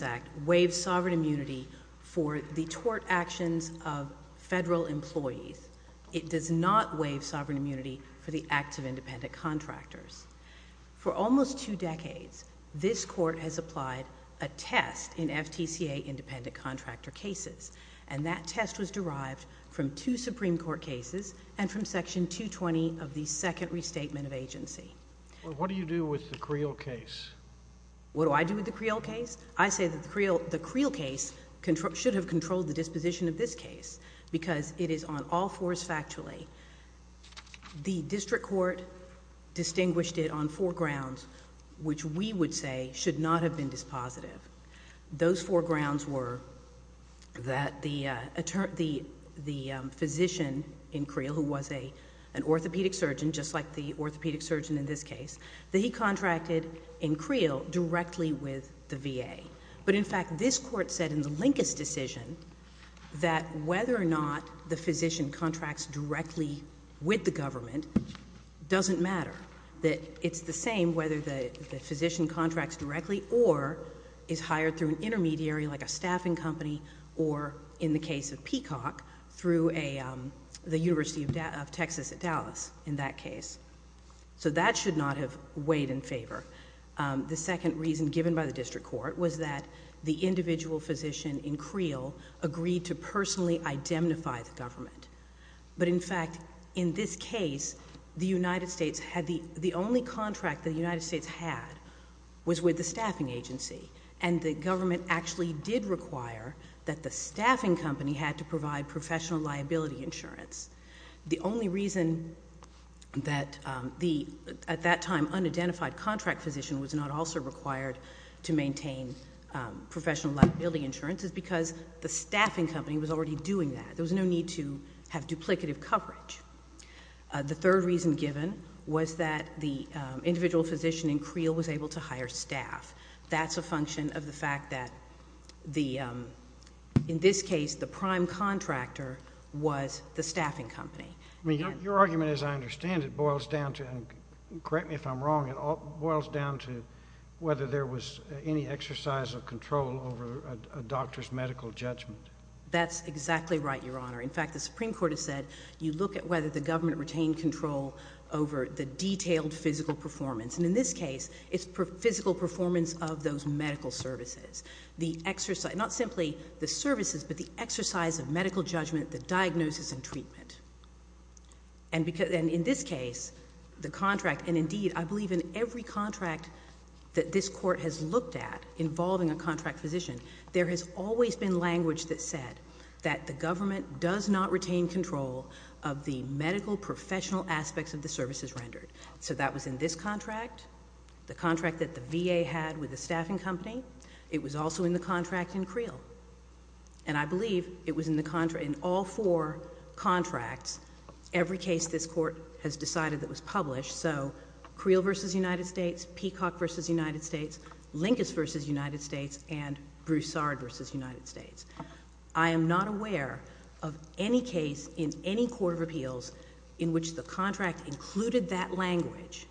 Act waives sovereign immunity for the tort actions of federal employees. It does not waive sovereign immunity for the acts of independent contractors. For almost two decades, this court has applied a test in FTCA independent contractor cases, and that test was derived from two Supreme Court cases and from Section 220 of the Second Restatement of Agency. What do you do with the Creel case? What do I do with the Creel case? I say that the Creel case should have controlled the disposition of this case because it is on all fours factually. The district court distinguished it on four grounds, which we would say should not have been dispositive. Those four grounds were that the physician in Creel, who was an orthopedic surgeon, just like the orthopedic surgeon in this case, that he contracted in Creel directly with the VA. But in fact, this court said in the Lincus decision that whether or not the physician contracts directly with the government doesn't matter, that it's the same whether the physician contracts directly or is hired through an intermediary like a staffing company or, in the case of Peacock, through the University of Texas at Dallas in that case. So that should not have weighed in favor. The second reason given by the district court was that the individual physician in Creel agreed to personally identify the government. But in fact, in this case, the United States had the... the only contract the United States had was with the staffing agency, and the government actually did require that the staffing company had to provide professional liability insurance. The only reason that the, at that time, unidentified contract physician was not also required to maintain professional liability insurance is because the staffing company was already doing that. There was no need to have duplicative coverage. The third reason given was that the individual physician in Creel was able to hire staff. That's a function of the fact that the, in this case, the prime contractor was the staffing company. I mean, your argument, as I understand it, boils down to, and correct me if I'm wrong, it boils down to whether there was any exercise of control over a doctor's medical judgment. That's exactly right, Your Honor. In fact, the Supreme Court has said you look at whether the government retained control over the detailed physical performance. And in this case, it's the physical performance of those medical services. The exercise, not simply the services, but the exercise of medical judgment, the diagnosis and treatment. And in this case, the contract, and indeed, I believe in every contract that this Court has looked at involving a contract physician, there has always been language that said that the government does not retain control of the medical professional aspects of the services rendered. So that was in this contract, the contract that the VA had with the staffing company. It was also in the contract in Creel. And I believe it was in all four contracts, every case this Court has decided that was published. So Creel v. United States, Peacock v. United States, Linkus v. United States, and Broussard v. United States. I am not aware of any case in any court of appeals in which the contract included that language,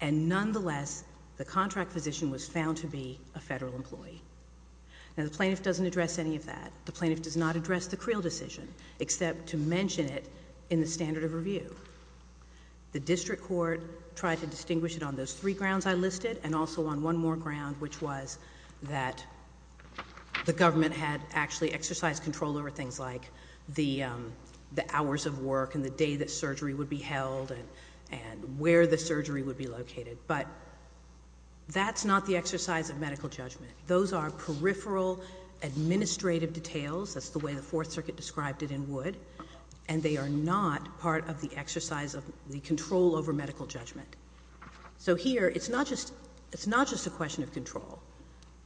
and nonetheless, the contract physician was found to be a Federal employee. Now, the plaintiff doesn't address any of that. The plaintiff does not address the Creel decision, except to mention it in the standard of review. The district court tried to distinguish it on those three grounds I listed, and also on one more ground, which was that the government had actually exercised control over things like the hours of work and the day that surgery would be held and where the surgery would be located. But that's not the exercise of medical judgment. Those are peripheral administrative details. That's the way the Fourth Circuit described it in Wood. And they are not part of the exercise of the control over medical judgment. So here, it's not just a question of control.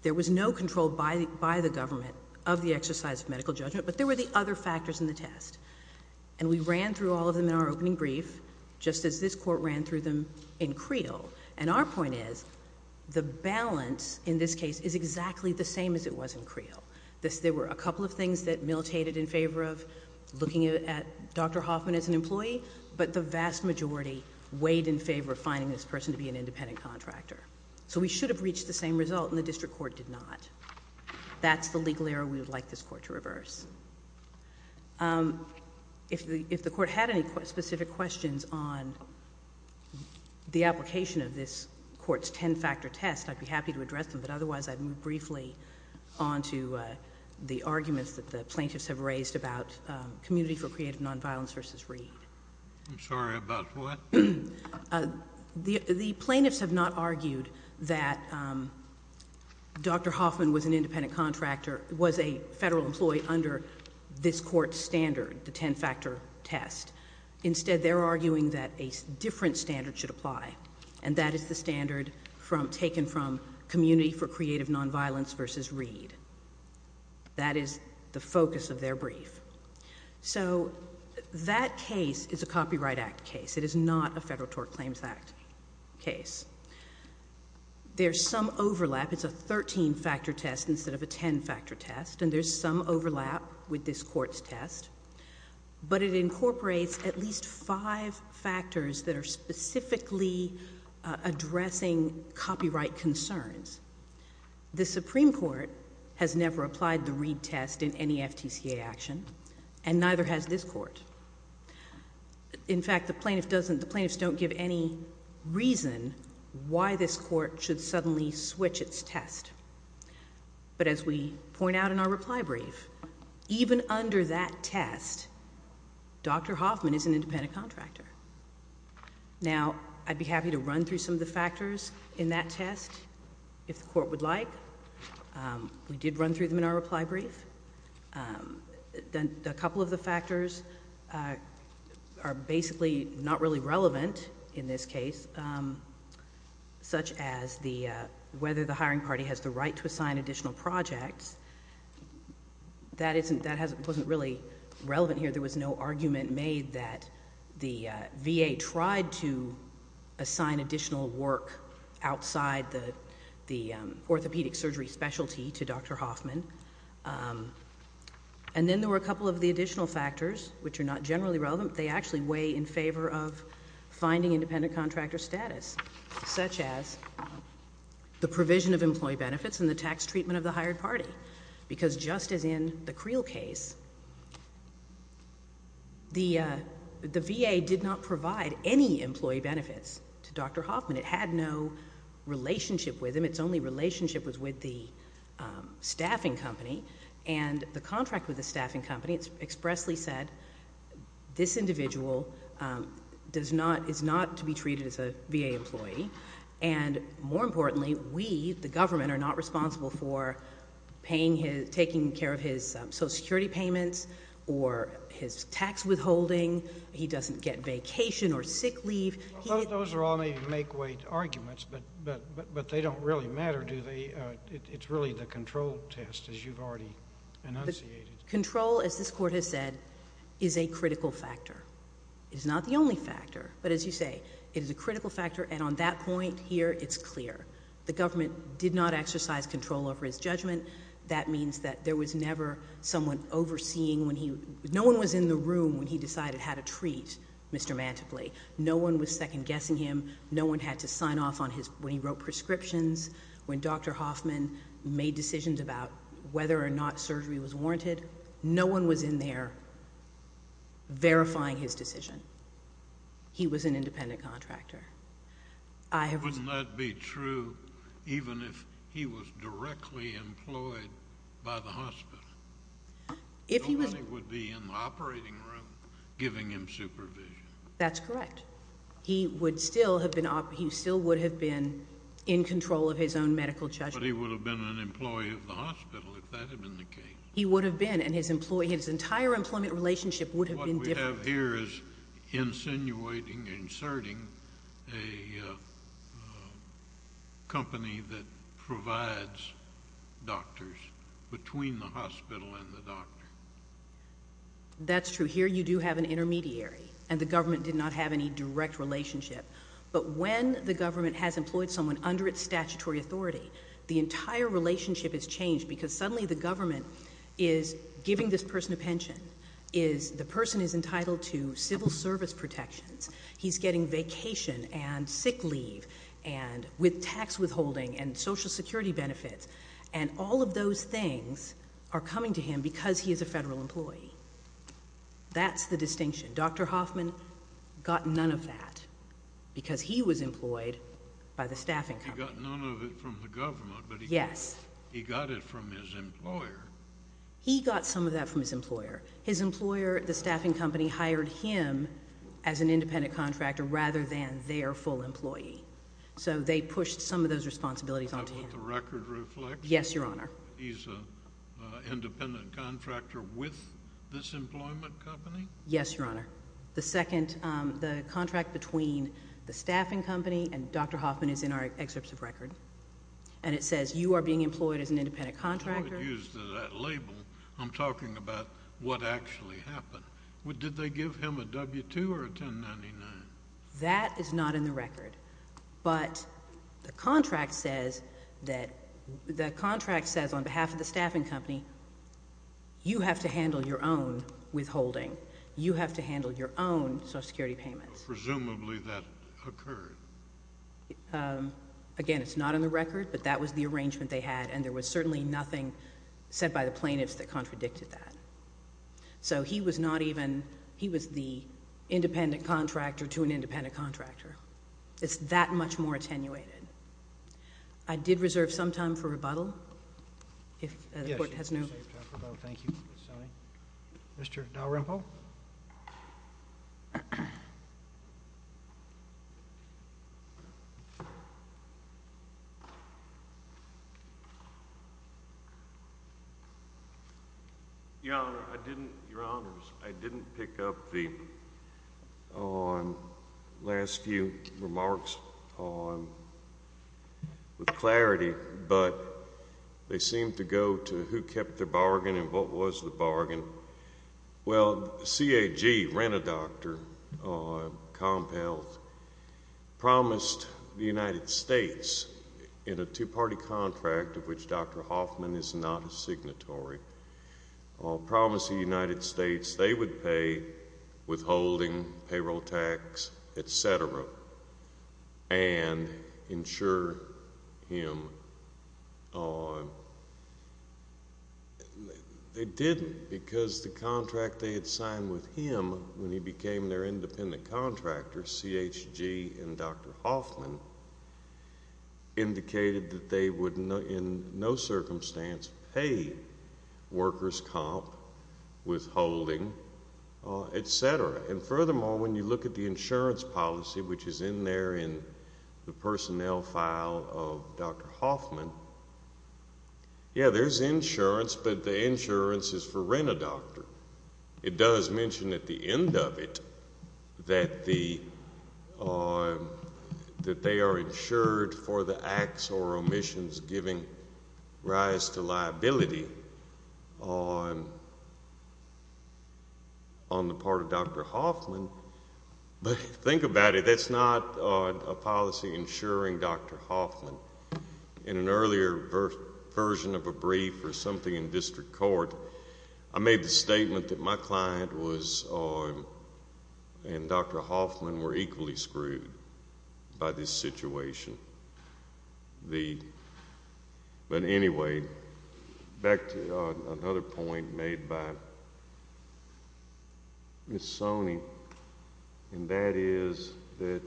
There was no control by the government of the exercise of medical judgment, but there were the other factors in the test. And we ran through all of them in our opening brief, just as this Court ran through them in Creel. And our point is, the balance in this case is exactly the same as it was in Creel. There were a couple of things that militated in favor of looking at Dr. Hoffman as an employee, but the vast majority weighed in favor of finding this person to be an independent contractor. So we should have reached the same result, and the district court did not. That's the legal error we would like this Court to reverse. If the Court had any specific questions on the application of this Court's ten-factor test, I'd be happy to address them, but otherwise I'd move briefly on to the arguments that the plaintiffs have raised about Community for Creative Nonviolence v. Reed. I'm sorry, about what? The plaintiffs have not argued that Dr. Hoffman was an independent contractor, was a federal employee under this Court's standard, the ten-factor test. Instead, they're arguing that a different standard should apply, and that is the standard taken from Community for Creative Nonviolence v. Reed. That is the focus of their brief. So that case is a Copyright Act case. It is not a Federal Tort Claims Act case. There's some overlap. It's a thirteen-factor test instead of a ten-factor test, and there's some overlap with this Court's test, but it incorporates at least five factors that are specifically addressing copyright concerns. The Supreme Court has never applied the Reed test in any FTCA action, and neither has this Court. In fact, the plaintiffs don't give any reason why this Court should suddenly switch its test. But as we point out in our reply brief, even under that test, Dr. Hoffman is an independent contractor. Now, I'd be happy to run through some of the factors in that test, if the Court would like. We did run through them in our reply brief. A couple of the factors are basically not really relevant in this case, such as whether the hiring party has the right to assign additional projects. That wasn't really relevant here. There was no argument made that the VA tried to assign additional work outside the orthopedic surgery specialty to Dr. Hoffman. And then there were a couple of the additional factors, which are not generally relevant. They actually weigh in favor of finding independent contractor status, such as the provision of employee benefits and the tax treatment of the hired party, because just as in the Creel case, the VA did not provide any employee benefits to Dr. Hoffman. It had no relationship with him. Its only relationship was with the staffing company. And the contract with the staffing company expressly said, this individual is not to be treated as a VA employee. And more importantly, we, the government, are not responsible for taking care of his Social Security payments or his tax withholding. He doesn't get vacation or sick leave. Well, those are all maybe make-weight arguments, but they don't really matter, do they? It's really the control test, as you've already enunciated. Control, as this Court has said, is a critical factor. It is not the only factor, but as you say, it is a critical factor. And on that point here, it's clear. The government did not exercise control over his judgment. That means that there was never someone overseeing when he—no one was in the room when he decided how to treat Mr. Mantiply. No one was second-guessing him. No one had to sign off on his—when he wrote prescriptions, when Dr. Hoffman made decisions about whether or not surgery was warranted. No one was in there verifying his decision. He was an independent contractor. Wouldn't that be true even if he was directly employed by the hospital? Nobody would be in the operating room giving him supervision. That's correct. He would still have been—he still would have been in control of his own medical judgment. But he would have been an employee of the hospital if that had been the case. He would have been, and his entire employment relationship would have been different. insinuating, inserting a company that provides doctors between the hospital and the doctor. That's true. Here you do have an intermediary, and the government did not have any direct relationship. But when the government has employed someone under its statutory authority, the entire relationship is changed because suddenly the government is giving this person a pension. The person is entitled to civil service protections. He's getting vacation and sick leave and with tax withholding and Social Security benefits. And all of those things are coming to him because he is a federal employee. That's the distinction. Dr. Hoffman got none of that because he was employed by the staffing company. He got none of it from the government, but he got it from his employer. He got some of that from his employer. His employer, the staffing company, hired him as an independent contractor rather than their full employee. So they pushed some of those responsibilities onto him. Is that what the record reflects? Yes, Your Honor. He's an independent contractor with this employment company? Yes, Your Honor. The second—the contract between the staffing company and Dr. Hoffman is in our excerpts of record. And it says you are being employed as an independent contractor. I don't use that label. I'm talking about what actually happened. Did they give him a W-2 or a 1099? That is not in the record. But the contract says that—the contract says on behalf of the staffing company, you have to handle your own withholding. You have to handle your own Social Security payments. Presumably that occurred. Again, it's not in the record, but that was the arrangement they had. And there was certainly nothing said by the plaintiffs that contradicted that. So he was not even—he was the independent contractor to an independent contractor. It's that much more attenuated. I did reserve some time for rebuttal if the Court has no— Your Honor, I didn't—Your Honors, I didn't pick up the last few remarks with clarity, but they seem to go to who kept the bargain and what was the bargain. Well, CAG, rent-a-doctor comp health, promised the United States in a two-party contract, of which Dr. Hoffman is not a signatory, promised the United States they would pay withholding, payroll tax, et cetera, and insure him. They didn't because the contract they had signed with him when he became their independent contractor, CHG and Dr. Hoffman, indicated that they would in no circumstance pay workers' comp, withholding, et cetera. And furthermore, when you look at the insurance policy, which is in there in the personnel file of Dr. Hoffman, yeah, there's insurance, but the insurance is for rent-a-doctor. It does mention at the end of it that they are insured for the acts or omissions giving rise to liability on the part of Dr. Hoffman, but think about it. That's not a policy insuring Dr. Hoffman. In an earlier version of a brief or something in district court, I made the statement that my client and Dr. Hoffman were equally screwed by this situation. But anyway, back to another point made by Ms. Soni, and that is that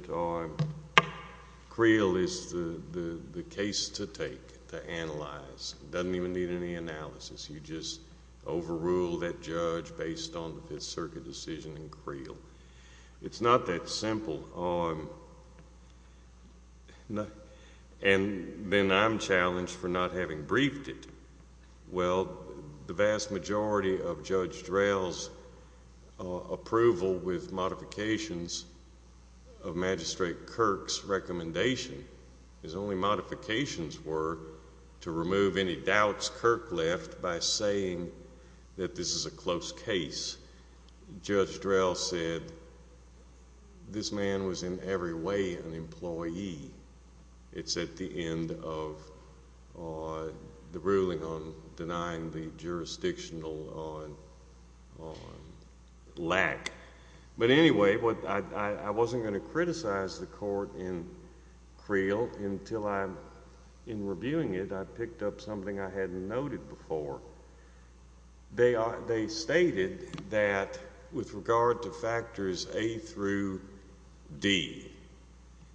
Creel is the case to take, to analyze. It doesn't even need any analysis. You just overrule that judge based on the Fifth Circuit decision in Creel. It's not that simple. And then I'm challenged for not having briefed it. Well, the vast majority of Judge Drell's approval with modifications of Magistrate Kirk's recommendation, his only modifications were to remove any doubts Kirk left by saying that this is a close case. Judge Drell said, this man was in every way an employee. It's at the end of the ruling on denying the jurisdictional lack. But anyway, I wasn't going to criticize the court in Creel until I, in reviewing it, I picked up something I hadn't noted before. They are, they stated that with regard to factors A through D,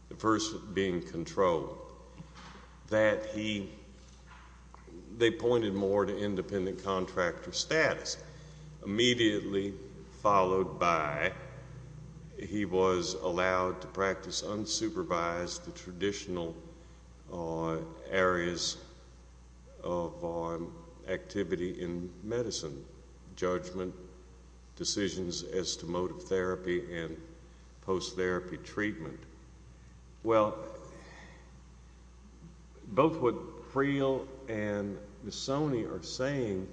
the first being control, that he, they pointed more to independent contractor status. Immediately followed by that, he was allowed to practice unsupervised traditional areas of activity in medicine, judgment, decisions as to motive therapy and post-therapy treatment. Well, both what Creel and Missoni are saying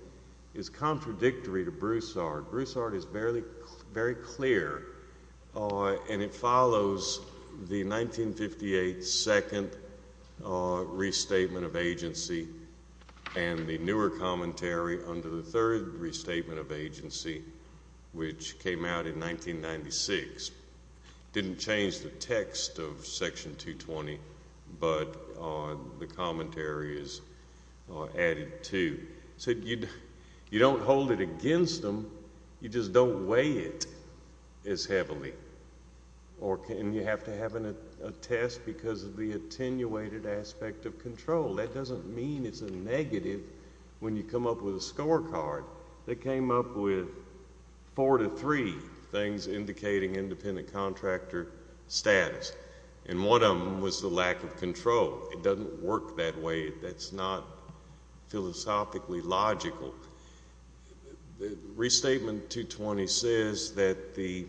is contradictory to Broussard. Broussard is very clear, and it follows the 1958 Second Restatement of Agency and the newer commentary under the Third Restatement of Agency, which came out in 1996. Didn't change the text of Section 220, but the commentary is added to. So you don't hold it against them, you just don't weigh it as heavily. Or you have to have a test because of the attenuated aspect of control. That doesn't mean it's a negative when you come up with a scorecard. They came up with four to three things indicating independent contractor status. And one of them was the lack of control. It doesn't work that way. That's not philosophically logical. Restatement 220 says that the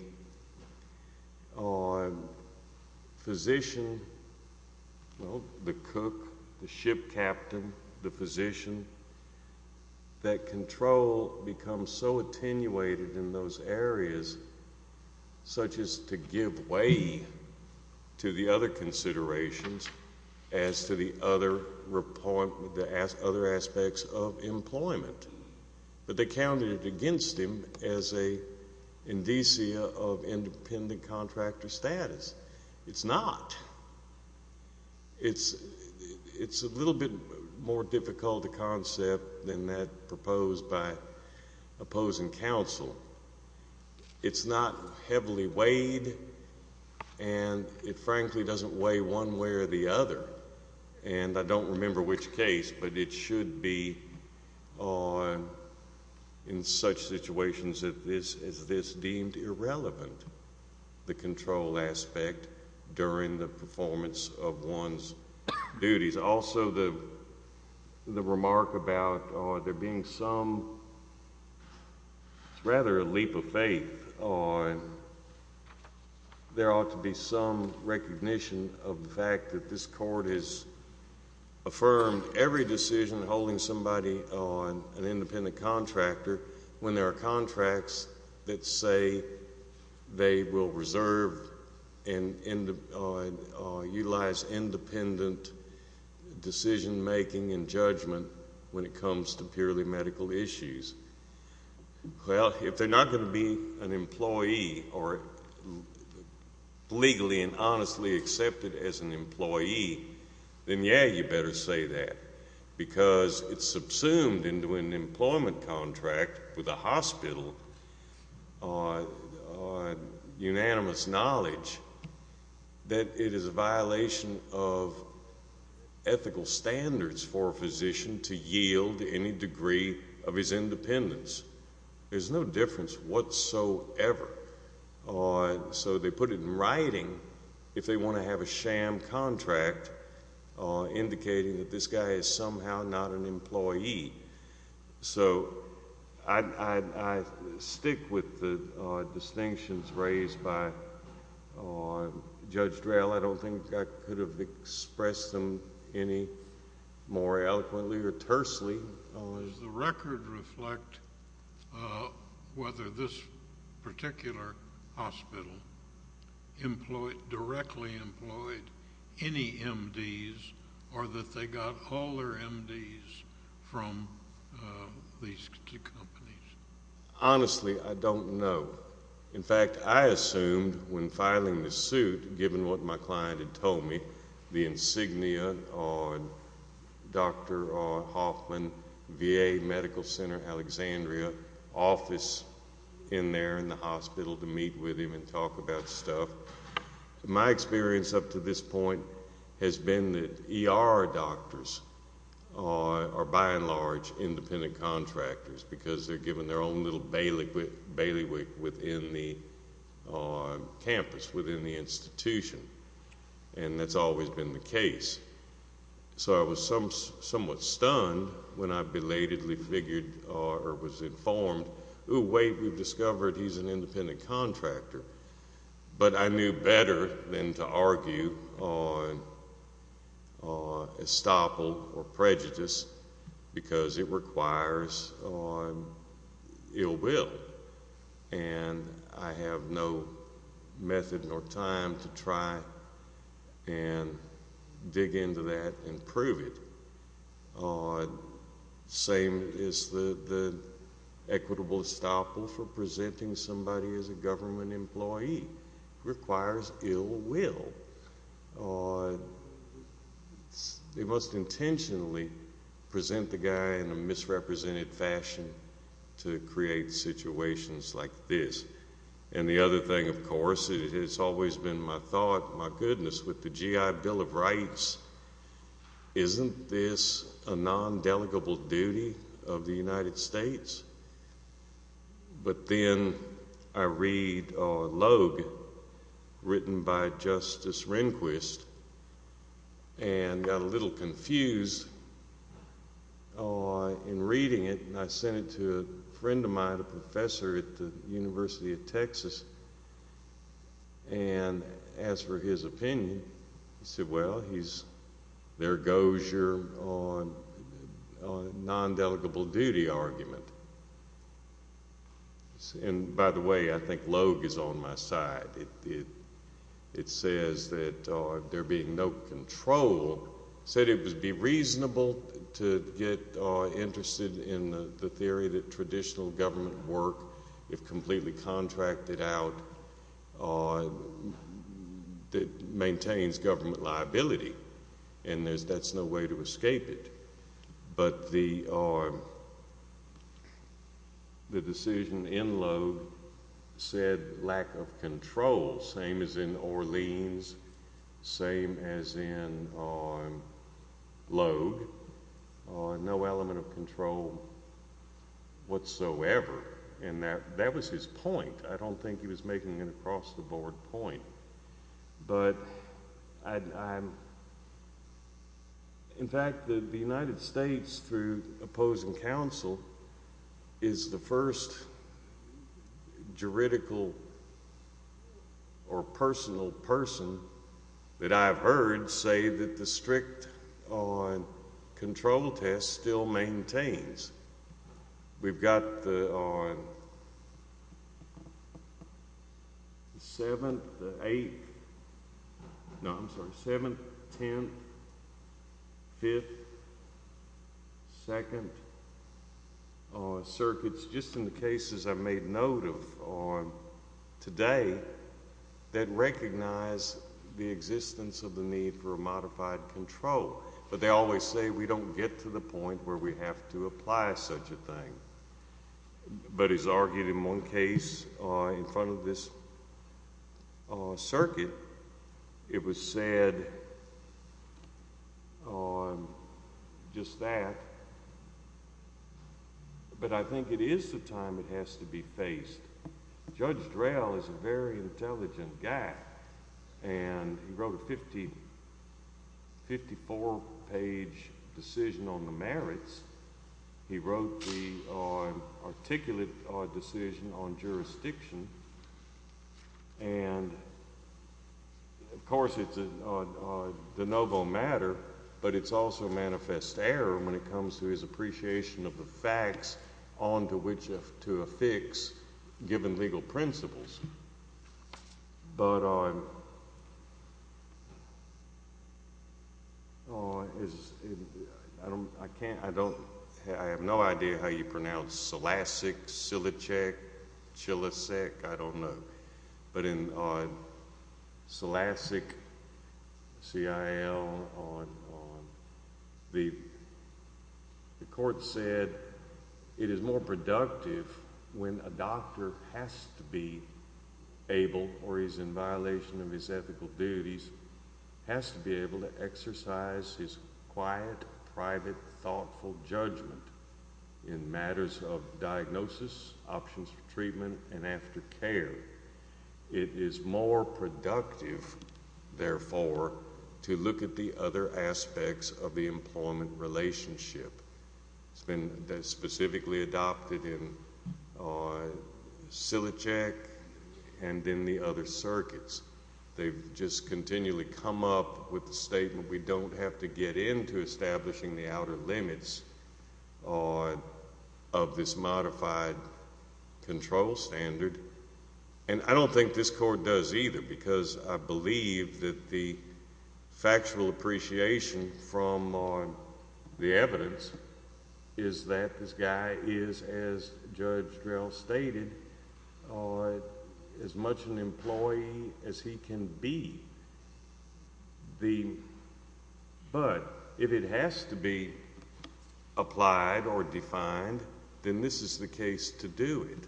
physician, well, the cook, the ship captain, the physician, that control becomes so attenuated in those other aspects of employment. But they counted it against him as a indicia of independent contractor status. It's not. It's a little bit more difficult a concept than that proposed by opposing counsel. It's not heavily weighed, and it frankly doesn't weigh one way or the other. And I don't remember which case, but it should be in such situations as this deemed irrelevant, the control aspect during the performance of one's duties. Also, the remark about there being some, rather a leap of faith, there ought to be some recognition of the fact that this court has affirmed every decision holding somebody on an independent contractor when there are contracts that say they will reserve and utilize independent decision-making and judgment when it comes to purely medical issues. Well, if they're not going to be an employee, then yeah, you better say that because it's subsumed into an employment contract with a hospital, unanimous knowledge that it is a violation of ethical standards for a physician to yield any degree of his independence. There's no difference whatsoever. So they put it in writing if they want to have a sham contract indicating that this guy is somehow not an employee. So I stick with the distinctions raised by Judge Drell. I don't think I could have expressed them any more eloquently or tersely. Does the record reflect whether this particular hospital directly employed any MDs or that they got all their MDs from these two companies? Honestly, I don't know. In fact, I assumed when filing this suit, given what my client had told me, the insignia on Dr. Hoffman, VA Medical Center, Alexandria, office in there in the hospital to meet with him and talk about stuff. My experience up to this point has been that ER doctors are by and large independent contractors because they're given their own little bailiwick within the campus, within the institution. And that's always been the case. So I was somewhat stunned when I belatedly figured or was informed, oh wait, we've discovered he's an independent contractor. But I knew better than to argue on estoppel or prejudice because it requires ill will. And I have no method nor time to try and dig into that and prove it. Same as the equitable estoppel for presenting somebody as a government employee requires ill will. They must intentionally present the guy in a misrepresented fashion to create situations like this. And the other thing, of course, it has always been my thought, my goodness, with the GI Bill of Rights, isn't this a non-delegable duty of the United States? But then I read a log written by Justice Rehnquist and got a little confused in reading it. And I sent it to a friend of mine, a professor at the University of Texas. And as for his opinion, he said, well, there goes your non-delegable duty argument. And by the way, I think Logue is on my side. It says that there being no control, said it would be reasonable to get interested in the theory that traditional government work, if completely contracted out, maintains government liability. And that's no way to escape it. But the decision in Logue said lack of control, same as in Orleans, same as in Logue. No element of control whatsoever. And that was his point. I don't think he was making an across-the-board point. But in fact, the United States, through opposing counsel, is the first juridical or personal that I've heard say that the strict control test still maintains. We've got the seventh, the eighth, no, I'm sorry, seventh, tenth, fifth, second circuits, just in the cases I've made note of today, that recognize the existence of the need for a modified control. But they always say we don't get to the point where we have to apply such a thing. But as argued in one case, in front of this circuit, it was said just that. But I think it is the time it has to be faced. Judge Drell is a very intelligent guy. And he wrote a 54-page decision on the merits. He wrote the articulate decision on jurisdiction. And of course, it's a de novo matter, but it's also a manifest error when it comes to his appreciation of the facts onto which to affix given legal principles. But I have no idea how you pronounce Cilicek, I don't know. But on Cilicek, C-I-L, the court said it is more productive when a doctor has to be able, or he's in violation of his ethical duties, has to be able to exercise his quiet, private, thoughtful judgment in matters of diagnosis, options for treatment, and after care. It is more productive, therefore, to look at the other aspects of the employment relationship. It's been specifically adopted in Cilicek and in the other circuits. They've just continually come up with the statement, we don't have to get into establishing the outer limits of this modified control standard. And I don't think this court does either, because I believe that the factual appreciation from the evidence is that this guy is, as an employee, as he can be. But if it has to be applied or defined, then this is the case to do it.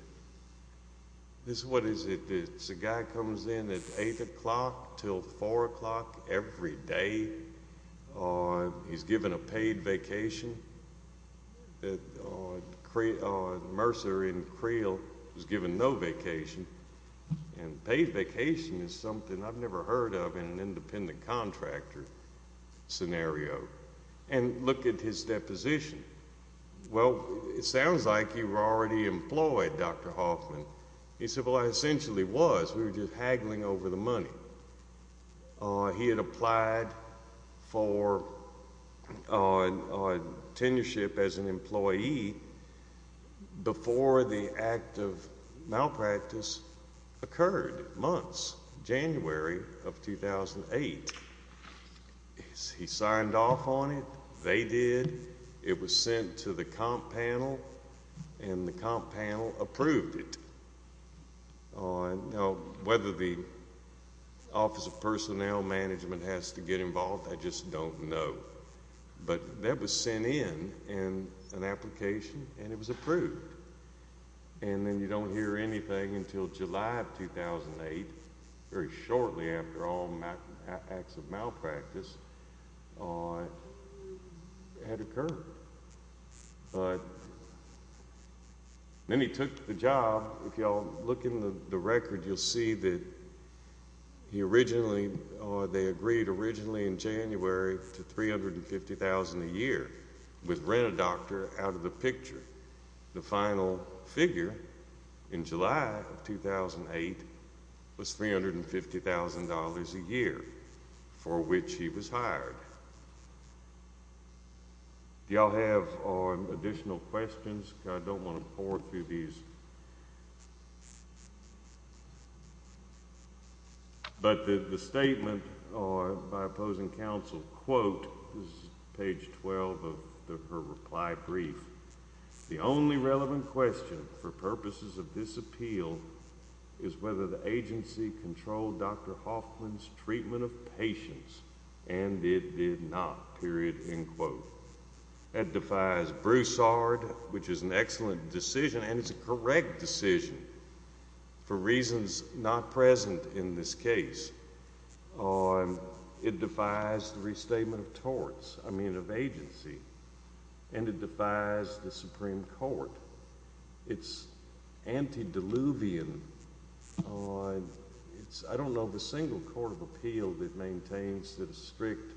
This, what is it? It's a guy comes in at 8 o'clock till 4 o'clock every day. He's given a paid vacation. Mercer in Creel was given no vacation. And paid vacation is something I've never heard of in an independent contractor scenario. And look at his deposition. Well, it sounds like you were already employed, Dr. Hoffman. He said, well, I essentially was. We were just haggling over the money. He had applied for tenureship as an employee before the act of malpractice occurred, months, January of 2008. He signed off on it, they did. It was sent to the comp panel, and the comp panel approved it. Now, whether the Office of Personnel Management has to get involved, I just don't know. But that was sent in, an application, and it was approved. And then you don't hear anything until July of 2008, very shortly after all acts of malpractice had occurred. But then he took the job. If you all look in the record, you'll see that he originally, or they agreed originally in January to $350,000 a year with rent-a-doctor out of the picture. The final figure in July of 2008 was $350,000 a year for which he was hired. Do you all have additional questions? I don't want to pour through these. But the statement by opposing counsel, quote, this is whether the agency controlled Dr. Hoffman's treatment of patients, and it did not, period, end quote. That defies Broussard, which is an excellent decision, and it's a correct decision for reasons not present in this case. It defies the restatement of torts, I mean it's, I don't know the single court of appeal that maintains that a strict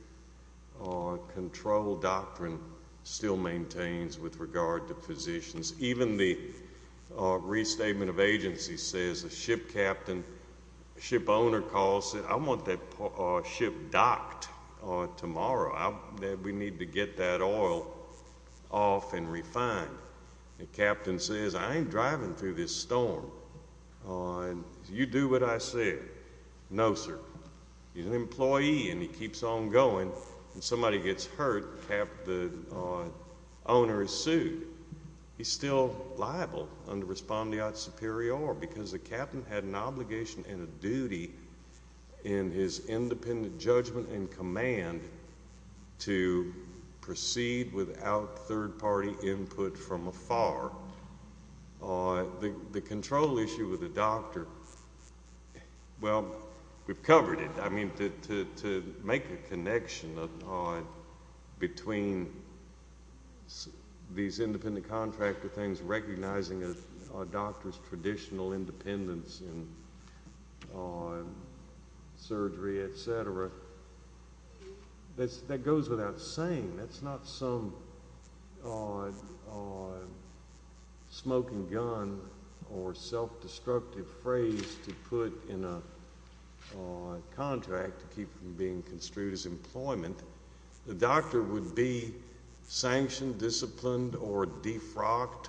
control doctrine still maintains with regard to physicians. Even the restatement of agency says the ship captain, ship owner calls and says, I want that ship docked tomorrow. We need to get that oil off and refined. The captain says, I ain't driving through this storm. You do what I say. No, sir. He's an employee and he keeps on going. When somebody gets hurt, the owner is sued. He's still liable under respondeat superior because the captain had an obligation and a duty in his independent judgment and command to proceed without third party input from afar. The control issue with the doctor, well, we've covered it. I mean to make a connection between these independent contractor things, recognizing a doctor's conditional independence in surgery, etc., that goes without saying. That's not some smoking gun or self-destructive phrase to put in a contract to keep from being construed as employment. The doctor would be sanctioned, disciplined, or defrocked,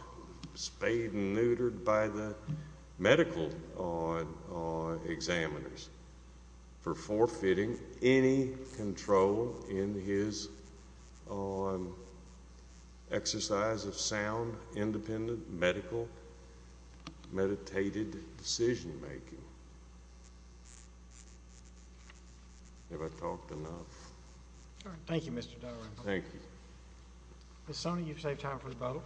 spayed and neutered by the medical examiners for forfeiting any control in his exercise of sound, independent, medical, meditated decision making. Have I talked enough? Thank you, Mr. Thank you, Sonia. You've saved time for the bottle.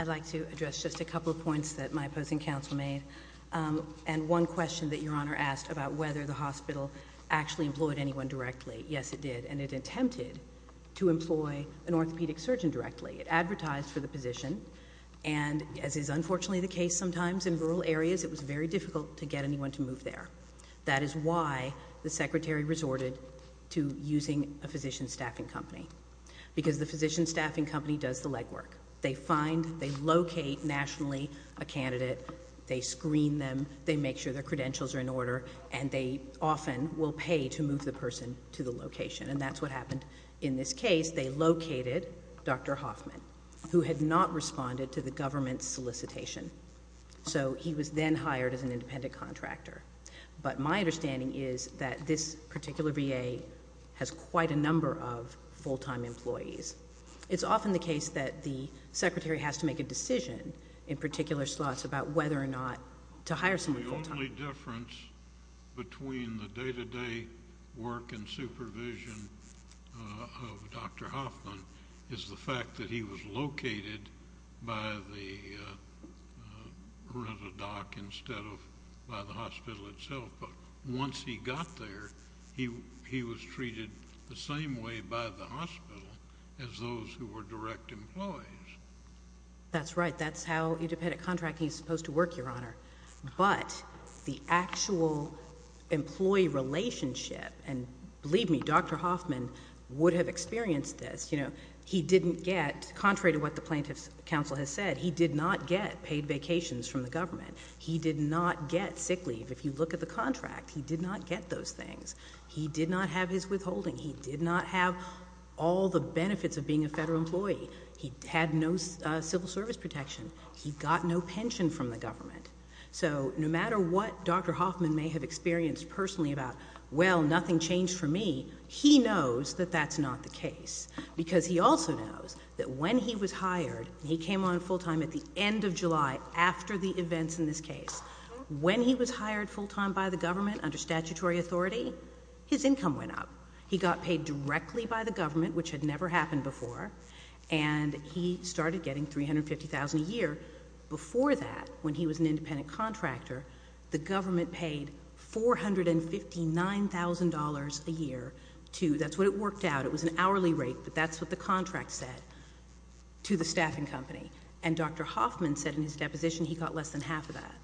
I'd like to address just a couple of points that my opposing counsel made. Um, and one question that your honor asked about whether the hospital actually employed anyone directly. Yes, it did. And it attempted to employ an orthopedic surgeon directly. It advertised for the position and as is unfortunately the case sometimes in rural areas, it was very difficult to get anyone to move there. That is why the secretary resorted to using a physician staffing company. Because the physician staffing company does the legwork. They find, they locate nationally a candidate, they screen them, they make sure their credentials are in order, and they often will pay to move the person to the location. And that's what happened in this case. They located Dr. Hoffman, who had not responded to the government's solicitation. So, he was then hired as an independent contractor. But my understanding is that this particular VA has quite a number of full-time employees. It's often the case that the secretary has to make a decision in particular slots about whether or not to hire a physician. And the difference between the day-to-day work and supervision of Dr. Hoffman is the fact that he was located by the RentaDoc instead of by the hospital itself. But once he got there, he was treated the same way by the hospital as those who were direct employees. That's right. That's how independent contracting is supposed to work, Your Honor. But the actual employee relationship, and believe me, Dr. Hoffman would have experienced this. He didn't get, contrary to what the plaintiff's counsel has said, he did not get paid vacations from the government. He did not get sick leave. If you look at the contract, he did not get those things. He did not have his withholding. He did not have all the benefits of being a federal employee. He had no civil service protection. He got no pension from the government. So no matter what Dr. Hoffman may have experienced personally about, well, nothing changed for me, he knows that that's not the case. Because he also knows that when he was hired, he came on full-time at the end of July after the events in this case. When he was hired full-time by the government under statutory authority, his income went up. He got paid directly by the government, which had never happened before. And he started getting $350,000 a year. Before that, when he was an independent contractor, the government paid $459,000 a year to, that's what it worked out, it was an hourly rate, but that's what the contract said, to the staffing company. And Dr. Hoffman said in his deposition he got less than half of that.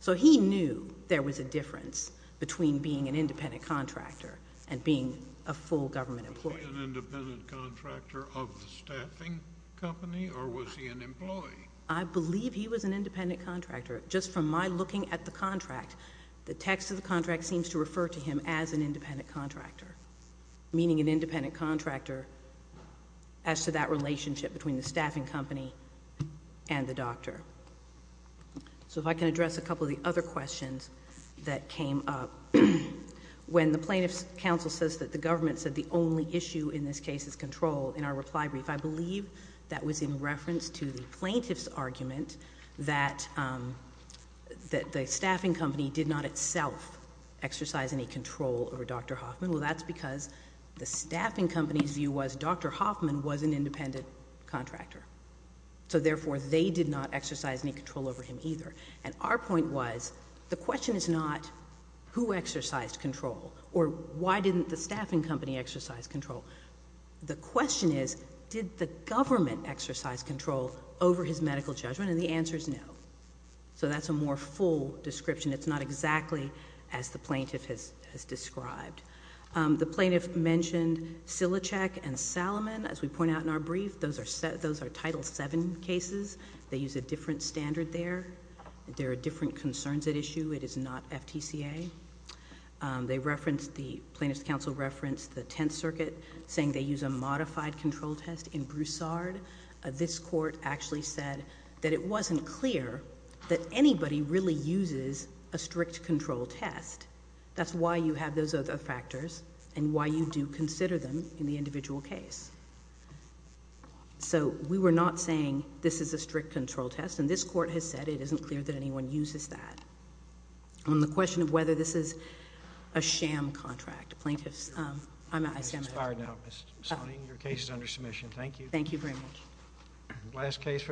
So he knew there was a difference between being an independent contractor and being a full government employee. Was he an independent contractor of the staffing company, or was he an employee? I believe he was an independent contractor. Just from my looking at the contract, the text of the contract seems to refer to him as an independent contractor, meaning an independent contractor as to that relationship between the staffing company and the doctor. So if I can address a couple of the other questions that came up. When the plaintiff's counsel says that the government said the only issue in this case is control, in our reply brief, I believe that was in reference to the plaintiff's argument that the staffing company did not itself exercise any control over Dr. Hoffman. Well, that's because the staffing company's view was Dr. Hoffman was an independent contractor. So therefore, they did not exercise any control over him either. And our point was, the question is not who exercised control, or why didn't the staffing company exercise control? The question is, did the government exercise control over his medical judgment? And the answer is no. So that's a more full description. It's not exactly as the plaintiff has described. The plaintiff mentioned Silecek and Salomon. As we point out in our brief, those are Title VII cases. They use a different standard there. There are different concerns at issue. It is not FTCA. The plaintiff's counsel referenced the Tenth Circuit saying they use a modified control test in Broussard. This court actually said that it wasn't clear that anybody really uses a strict control test. That's why you have those other factors and why you do consider them in the individual case. So we were not saying this is a strict control test. And this court has said it isn't clear that anyone uses that. On the question of whether this is a sham contract, plaintiffs, I'm at a standstill. Your case is under submission. Thank you. Thank you very much.